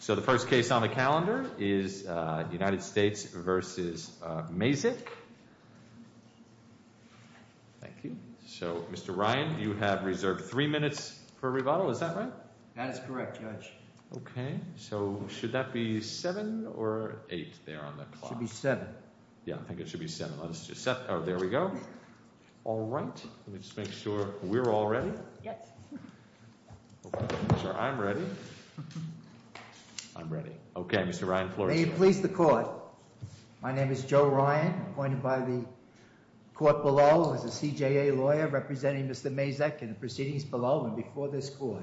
So the first case on the calendar is United States v. Mayzick. Thank you. So, Mr. Ryan, you have reserved three minutes for rebuttal. Is that right? That is correct, Judge. Okay. So should that be 7 or 8 there on the clock? It should be 7. Yeah, I think it should be 7. Let's just set – oh, there we go. All right. Let me just make sure we're all ready. Yep. I'm ready. I'm ready. Okay, Mr. Ryan, floor is yours. May it please the Court. My name is Joe Ryan, appointed by the court below as a CJA lawyer representing Mr. Mayzick in the proceedings below and before this Court.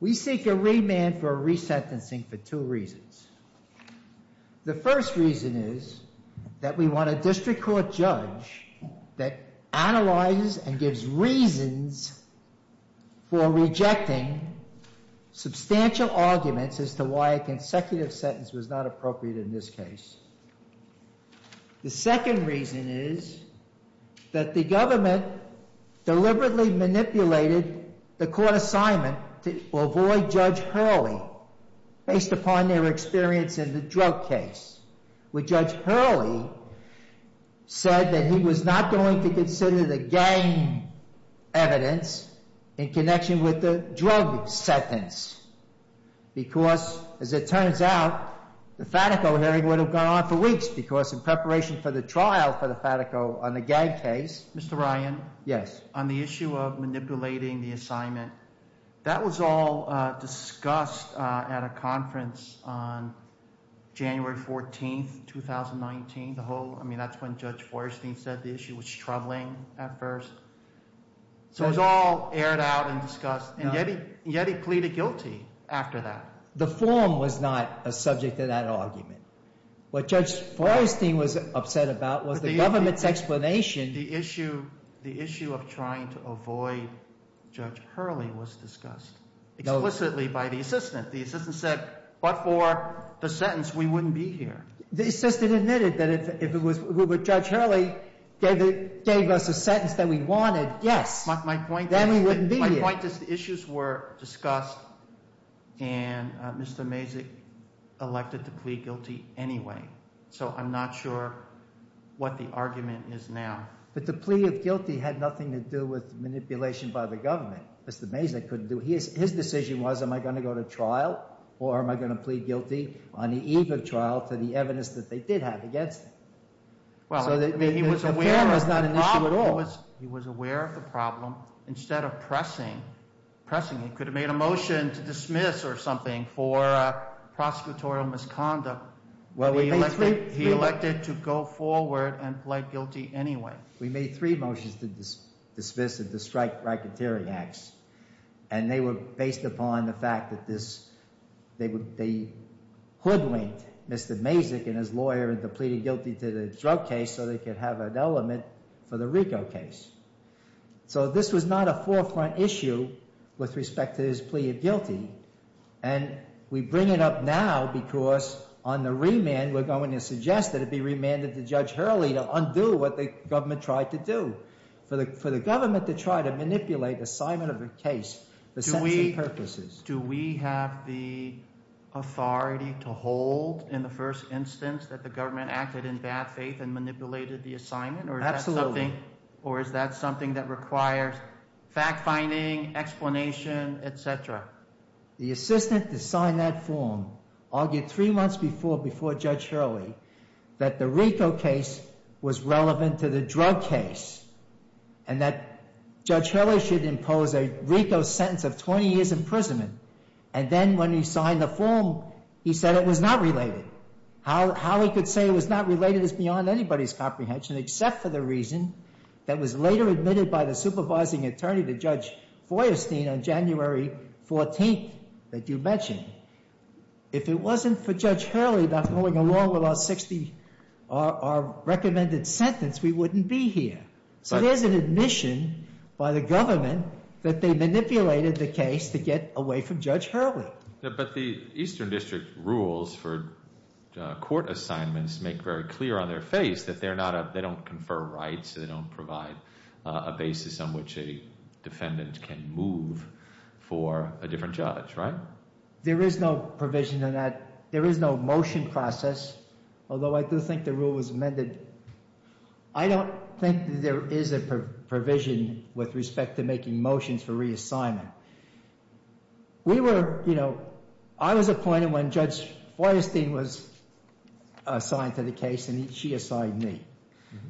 We seek a remand for resentencing for two reasons. The first reason is that we want a district court judge that analyzes and gives reasons for rejecting substantial arguments as to why a consecutive sentence was not appropriate in this case. The second reason is that the government deliberately manipulated the court assignment to avoid Judge Hurley based upon their experience in the drug case, where Judge Hurley said that he was not going to consider the gang evidence in connection with the drug sentence because, as it turns out, the Fatico hearing would have gone on for weeks because in preparation for the trial for the Fatico on the gang case. Mr. Ryan? Yes. On the issue of manipulating the assignment, that was all discussed at a conference on January 14th, 2019. I mean, that's when Judge Feuerstein said the issue was troubling at first. So it was all aired out and discussed, and yet he pleaded guilty after that. The forum was not a subject to that argument. What Judge Feuerstein was upset about was the government's explanation. The issue of trying to avoid Judge Hurley was discussed explicitly by the assistant. The assistant said, but for the sentence, we wouldn't be here. The assistant admitted that if Judge Hurley gave us a sentence that we wanted, yes, then we wouldn't be here. My point is the issues were discussed, and Mr. Mazik elected to plead guilty anyway. So I'm not sure what the argument is now. But the plea of guilty had nothing to do with manipulation by the government. Mr. Mazik couldn't do it. His decision was, am I going to go to trial or am I going to plead guilty on the eve of trial to the evidence that they did have against him? So the forum was not an issue at all. He was aware of the problem. Instead of pressing, he could have made a motion to dismiss or something for prosecutorial misconduct. He elected to go forward and plead guilty anyway. We made three motions to dismiss and to strike racketeering acts. And they were based upon the fact that they hoodwinked Mr. Mazik and his lawyer into pleading guilty to the drug case so they could have an element for the RICO case. So this was not a forefront issue with respect to his plea of guilty. And we bring it up now because on the remand, we're going to suggest that it be remanded to Judge Hurley to undo what the government tried to do. For the government to try to manipulate the assignment of a case for sentencing purposes. Do we have the authority to hold in the first instance that the government acted in bad faith and manipulated the assignment? Absolutely. Or is that something that requires fact-finding, explanation, et cetera? The assistant to sign that form argued three months before Judge Hurley that the RICO case was relevant to the drug case. And that Judge Hurley should impose a RICO sentence of 20 years imprisonment. And then when he signed the form, he said it was not related. How he could say it was not related is beyond anybody's comprehension except for the reason that was later admitted by the supervising attorney to Judge Feuerstein on January 14th that you mentioned. If it wasn't for Judge Hurley not going along with our 60, our recommended sentence, we wouldn't be here. So there's an admission by the government that they manipulated the case to get away from Judge Hurley. But the Eastern District rules for court assignments make very clear on their face that they don't confer rights. They don't provide a basis on which a defendant can move for a different judge, right? There is no provision on that. There is no motion process, although I do think the rule was amended. I don't think there is a provision with respect to making motions for reassignment. We were, you know, I was appointed when Judge Feuerstein was assigned to the case and she assigned me.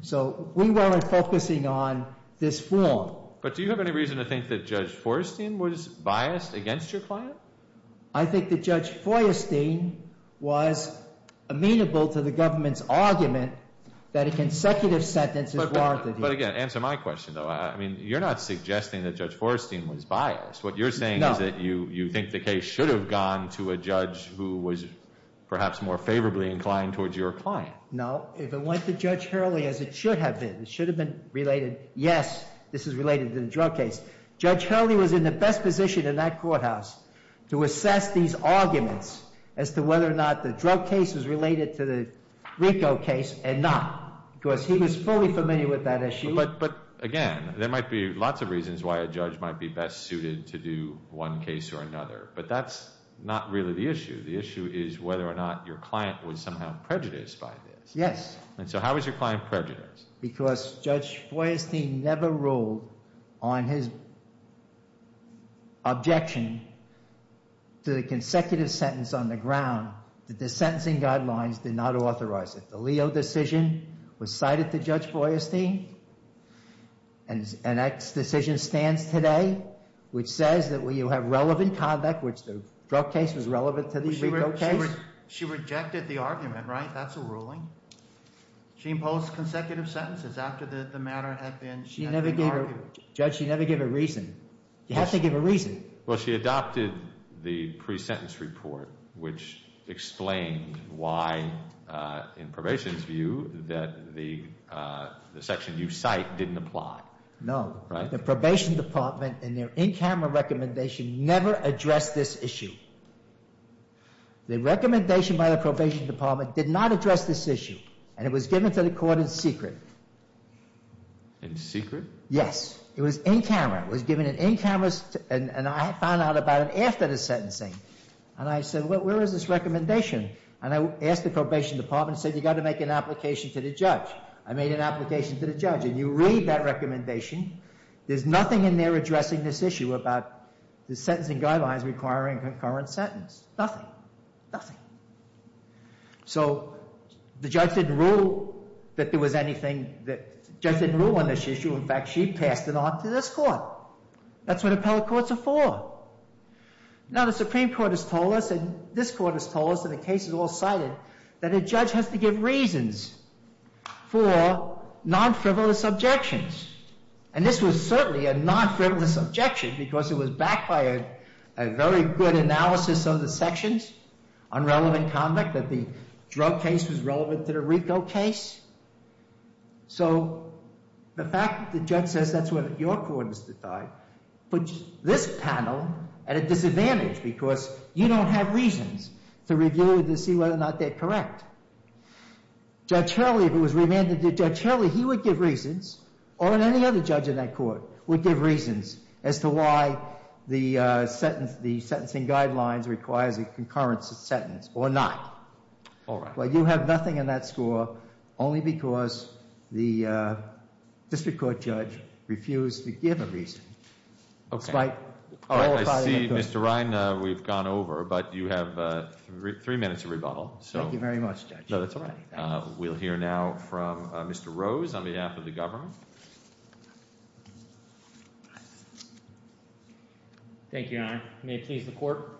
So we weren't focusing on this form. But do you have any reason to think that Judge Feuerstein was biased against your client? I think that Judge Feuerstein was amenable to the government's argument that a consecutive sentence is warranted here. But again, answer my question, though. I mean, you're not suggesting that Judge Feuerstein was biased. What you're saying is that you think the case should have gone to a judge who was perhaps more favorably inclined towards your client. No. If it went to Judge Hurley, as it should have been, it should have been related, yes, this is related to the drug case. Judge Hurley was in the best position in that courthouse to assess these arguments as to whether or not the drug case is related to the RICO case and not. Because he was fully familiar with that issue. But again, there might be lots of reasons why a judge might be best suited to do one case or another. But that's not really the issue. The issue is whether or not your client was somehow prejudiced by this. Yes. And so how was your client prejudiced? Because Judge Feuerstein never ruled on his objection to the consecutive sentence on the ground that the sentencing guidelines did not authorize it. The Leo decision was cited to Judge Feuerstein. And that decision stands today, which says that you have relevant conduct, which the drug case was relevant to the RICO case. She rejected the argument, right? That's a ruling. She imposed consecutive sentences after the matter had been argued. Judge, she never gave a reason. You have to give a reason. Well, she adopted the pre-sentence report, which explained why, in probation's view, that the section you cite didn't apply. No. The probation department in their in-camera recommendation never addressed this issue. The recommendation by the probation department did not address this issue. And it was given to the court in secret. In secret? Yes. It was in-camera. It was given in-camera, and I found out about it after the sentencing. And I said, well, where is this recommendation? And I asked the probation department and said, you've got to make an application to the judge. I made an application to the judge. And you read that recommendation. There's nothing in there addressing this issue about the sentencing guidelines requiring concurrent sentence. Nothing. Nothing. So the judge didn't rule that there was anything that—the judge didn't rule on this issue. In fact, she passed it on to this court. That's what appellate courts are for. Now, the Supreme Court has told us, and this court has told us, and the case is all cited, that a judge has to give reasons for non-frivolous objections. And this was certainly a non-frivolous objection because it was backed by a very good analysis of the sections on relevant conduct, that the drug case was relevant to the RICO case. So the fact that the judge says that's what your court has decided puts this panel at a disadvantage because you don't have reasons to review it to see whether or not they're correct. Judge Hurley, if it was remanded to Judge Hurley, he would give reasons or any other judge in that court would give reasons as to why the sentencing guidelines requires a concurrent sentence or not. All right. Well, you have nothing in that score only because the district court judge refused to give a reason. Okay. Despite— All right, I see, Mr. Ryan, we've gone over, but you have three minutes of rebuttal, so— Thank you very much, Judge. No, that's all right. We'll hear now from Mr. Rose on behalf of the government. Thank you, Your Honor. May it please the Court.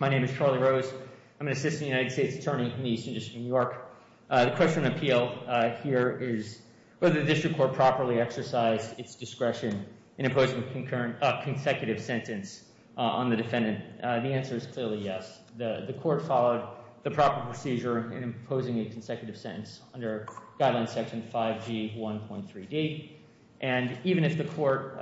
My name is Charlie Rose. I'm an assistant United States attorney in the Eastern District of New York. The question of appeal here is whether the district court properly exercised its discretion in imposing a consecutive sentence on the defendant. The answer is clearly yes. The court followed the proper procedure in imposing a consecutive sentence under Guideline Section 5G1.3d. And even if the court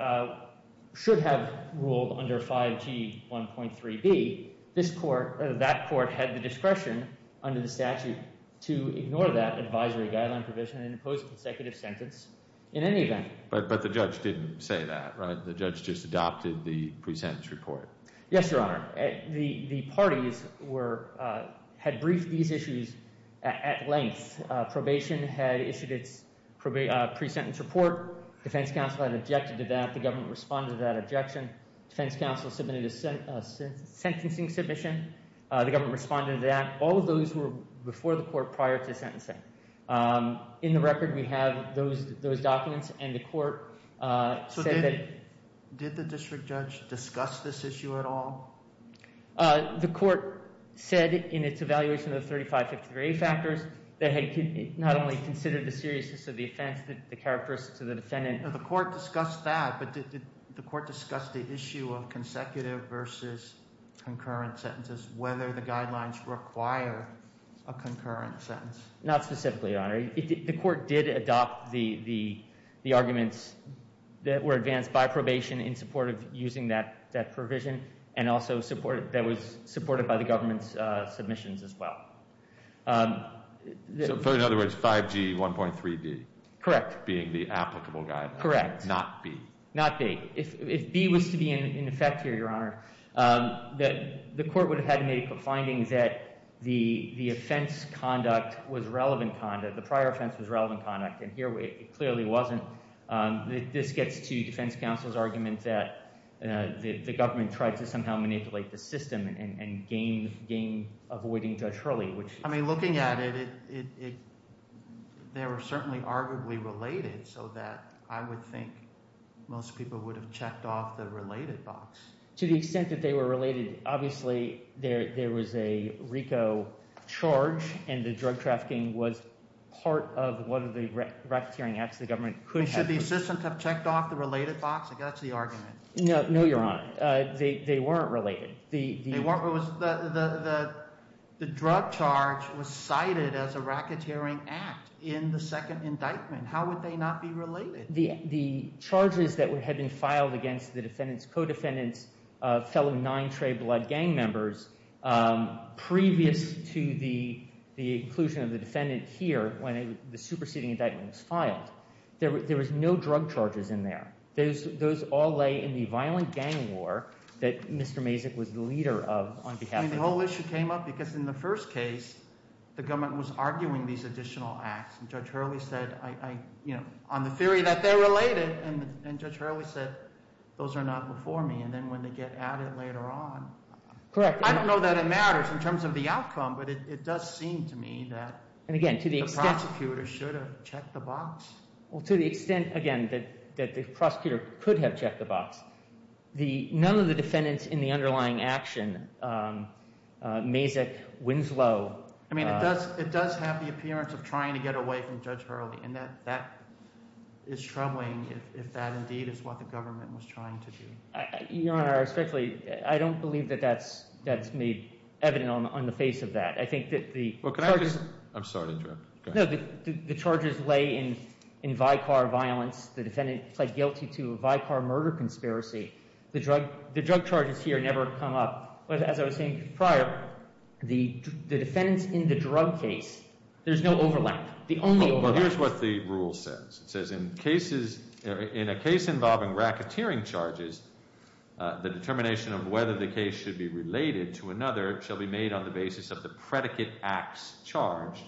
should have ruled under 5G1.3b, this court—that court had the discretion under the statute to ignore that advisory guideline provision and impose a consecutive sentence in any event. But the judge didn't say that, right? The judge just adopted the pre-sentence report. Yes, Your Honor. The parties were—had briefed these issues at length. Probation had issued its pre-sentence report. Defense counsel had objected to that. The government responded to that objection. Defense counsel submitted a sentencing submission. The government responded to that. All of those were before the court prior to sentencing. In the record, we have those documents, and the court said that— The court said in its evaluation of the 3553A factors that it not only considered the seriousness of the offense that characterizes the defendant— The court discussed that, but did the court discuss the issue of consecutive versus concurrent sentences, whether the guidelines require a concurrent sentence? The court did adopt the arguments that were advanced by probation in support of using that provision and also supported—that was supported by the government's submissions as well. So, in other words, 5G1.3d— Correct. —being the applicable guideline. Correct. Not b. Not b. If b was to be in effect here, Your Honor, the court would have had to make a finding that the offense conduct was relevant conduct. The prior offense was relevant conduct, and here it clearly wasn't. This gets to defense counsel's argument that the government tried to somehow manipulate the system and gain—avoiding Judge Hurley, which— Most people would have checked off the related box. To the extent that they were related, obviously there was a RICO charge, and the drug trafficking was part of one of the racketeering acts the government could have— Should the assistant have checked off the related box? I guess that's the argument. No, Your Honor. They weren't related. The drug charge was cited as a racketeering act in the second indictment. How would they not be related? The charges that had been filed against the defendant's co-defendants, fellow Nine Trey Blood gang members, previous to the inclusion of the defendant here when the superseding indictment was filed, there was no drug charges in there. Those all lay in the violent gang war that Mr. Mazik was the leader of on behalf of— The whole issue came up because in the first case, the government was arguing these additional acts, and Judge Hurley said, on the theory that they're related, and Judge Hurley said, those are not before me. And then when they get at it later on— Correct. I don't know that it matters in terms of the outcome, but it does seem to me that the prosecutor should have checked the box. Well, to the extent, again, that the prosecutor could have checked the box, none of the defendants in the underlying action, Mazik, Winslow— I mean, it does have the appearance of trying to get away from Judge Hurley, and that is troubling if that indeed is what the government was trying to do. Your Honor, respectfully, I don't believe that that's made evident on the face of that. I think that the— Well, can I just—I'm sorry to interrupt. Go ahead. No, the charges lay in vicar violence. The defendant pled guilty to a vicar murder conspiracy. The drug charges here never come up. As I was saying prior, the defendants in the drug case, there's no overlap. The only overlap— Well, here's what the rule says. It says, in a case involving racketeering charges, the determination of whether the case should be related to another shall be made on the basis of the predicate acts charged,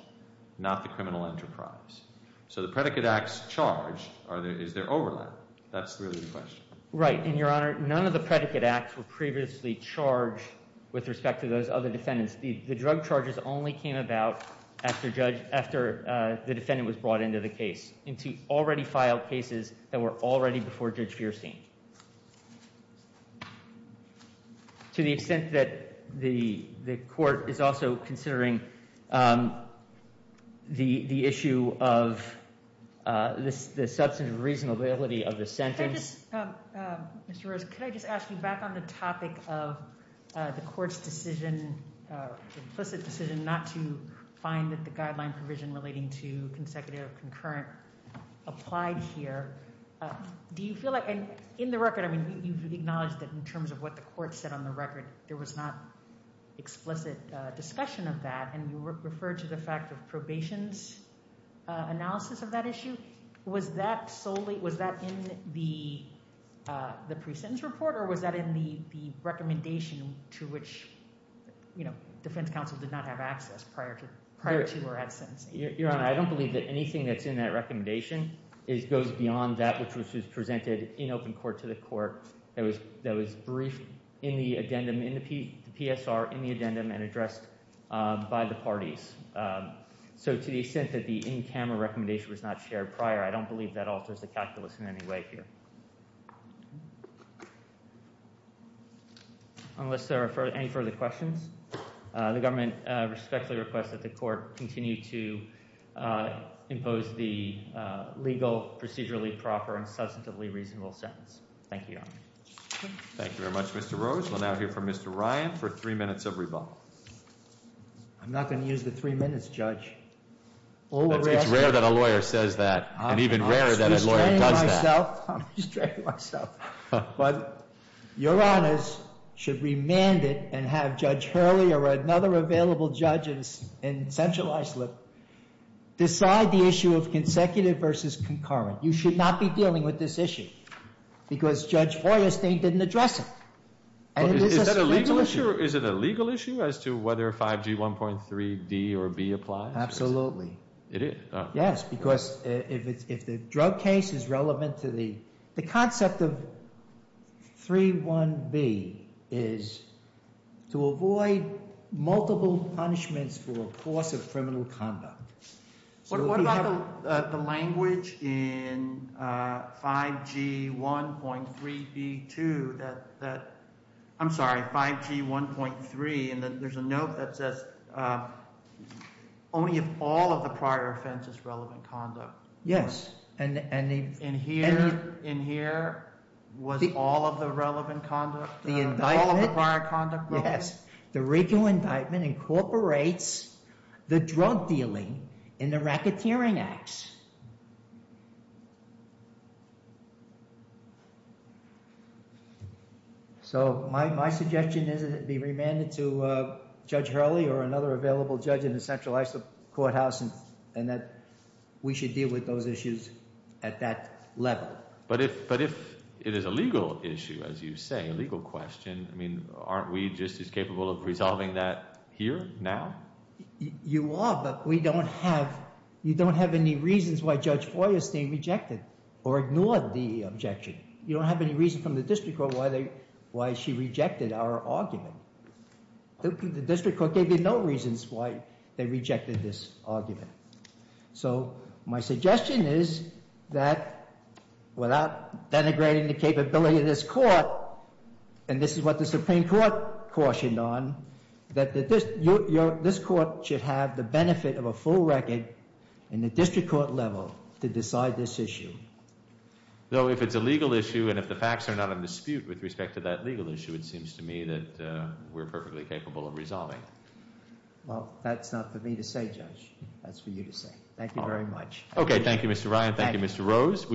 not the criminal enterprise. So the predicate acts charged, is there overlap? That's really the question. Right. And, Your Honor, none of the predicate acts were previously charged with respect to those other defendants. The drug charges only came about after the defendant was brought into the case, into already filed cases that were already before Judge Feierstein. To the extent that the court is also considering the issue of the substantive reasonability of the sentence— Could I just—Mr. Rose, could I just ask you back on the topic of the court's decision, implicit decision, not to find that the guideline provision relating to consecutive or concurrent applied here? Do you feel like—and in the record, I mean, you've acknowledged that in terms of what the court said on the record, there was not explicit discussion of that. And you referred to the fact of probation's analysis of that issue. Was that solely—was that in the pre-sentence report, or was that in the recommendation to which, you know, defense counsel did not have access prior to or had sentencing? Your Honor, I don't believe that anything that's in that recommendation goes beyond that which was presented in open court to the court that was briefed in the addendum, in the PSR, in the addendum and addressed by the parties. So to the extent that the in-camera recommendation was not shared prior, I don't believe that alters the calculus in any way here. Unless there are any further questions, the government respectfully requests that the court continue to impose the legal, procedurally proper, and substantively reasonable sentence. Thank you, Your Honor. Thank you very much, Mr. Rose. We'll now hear from Mr. Ryan for three minutes of rebuttal. I'm not going to use the three minutes, Judge. It's rare that a lawyer says that, and even rarer that a lawyer does that. I'm restraining myself. Your Honors should remand it and have Judge Hurley or another available judge in Central Iceland decide the issue of consecutive versus concurrent. You should not be dealing with this issue because Judge Feuerstein didn't address it. Is that a legal issue? Is it a legal issue as to whether 5G 1.3d or b applies? Absolutely. It is? Yes, because if the drug case is relevant to the concept of 3.1b is to avoid multiple punishments for a course of criminal conduct. What about the language in 5G 1.3b2 that, I'm sorry, 5G 1.3, and there's a note that says only if all of the prior offense is relevant conduct. Yes. And here was all of the relevant conduct, all of the prior conduct relevant? Yes. The RICO indictment incorporates the drug dealing in the racketeering acts. So my suggestion is that it be remanded to Judge Hurley or another available judge in the Central Iceland Courthouse and that we should deal with those issues at that level. But if it is a legal issue, as you say, a legal question, I mean, aren't we just as capable of resolving that here now? You are, but we don't have any reasons why Judge Feuerstein rejected or ignored the objection. You don't have any reason from the district court why she rejected our argument. The district court gave you no reasons why they rejected this argument. So my suggestion is that without denigrating the capability of this court, and this is what the Supreme Court cautioned on, that this court should have the benefit of a full record in the district court level to decide this issue. Though if it's a legal issue and if the facts are not in dispute with respect to that legal issue, it seems to me that we're perfectly capable of resolving it. Well, that's not for me to say, Judge. That's for you to say. Thank you very much. Okay. Thank you, Mr. Ryan. Thank you, Mr. Rose.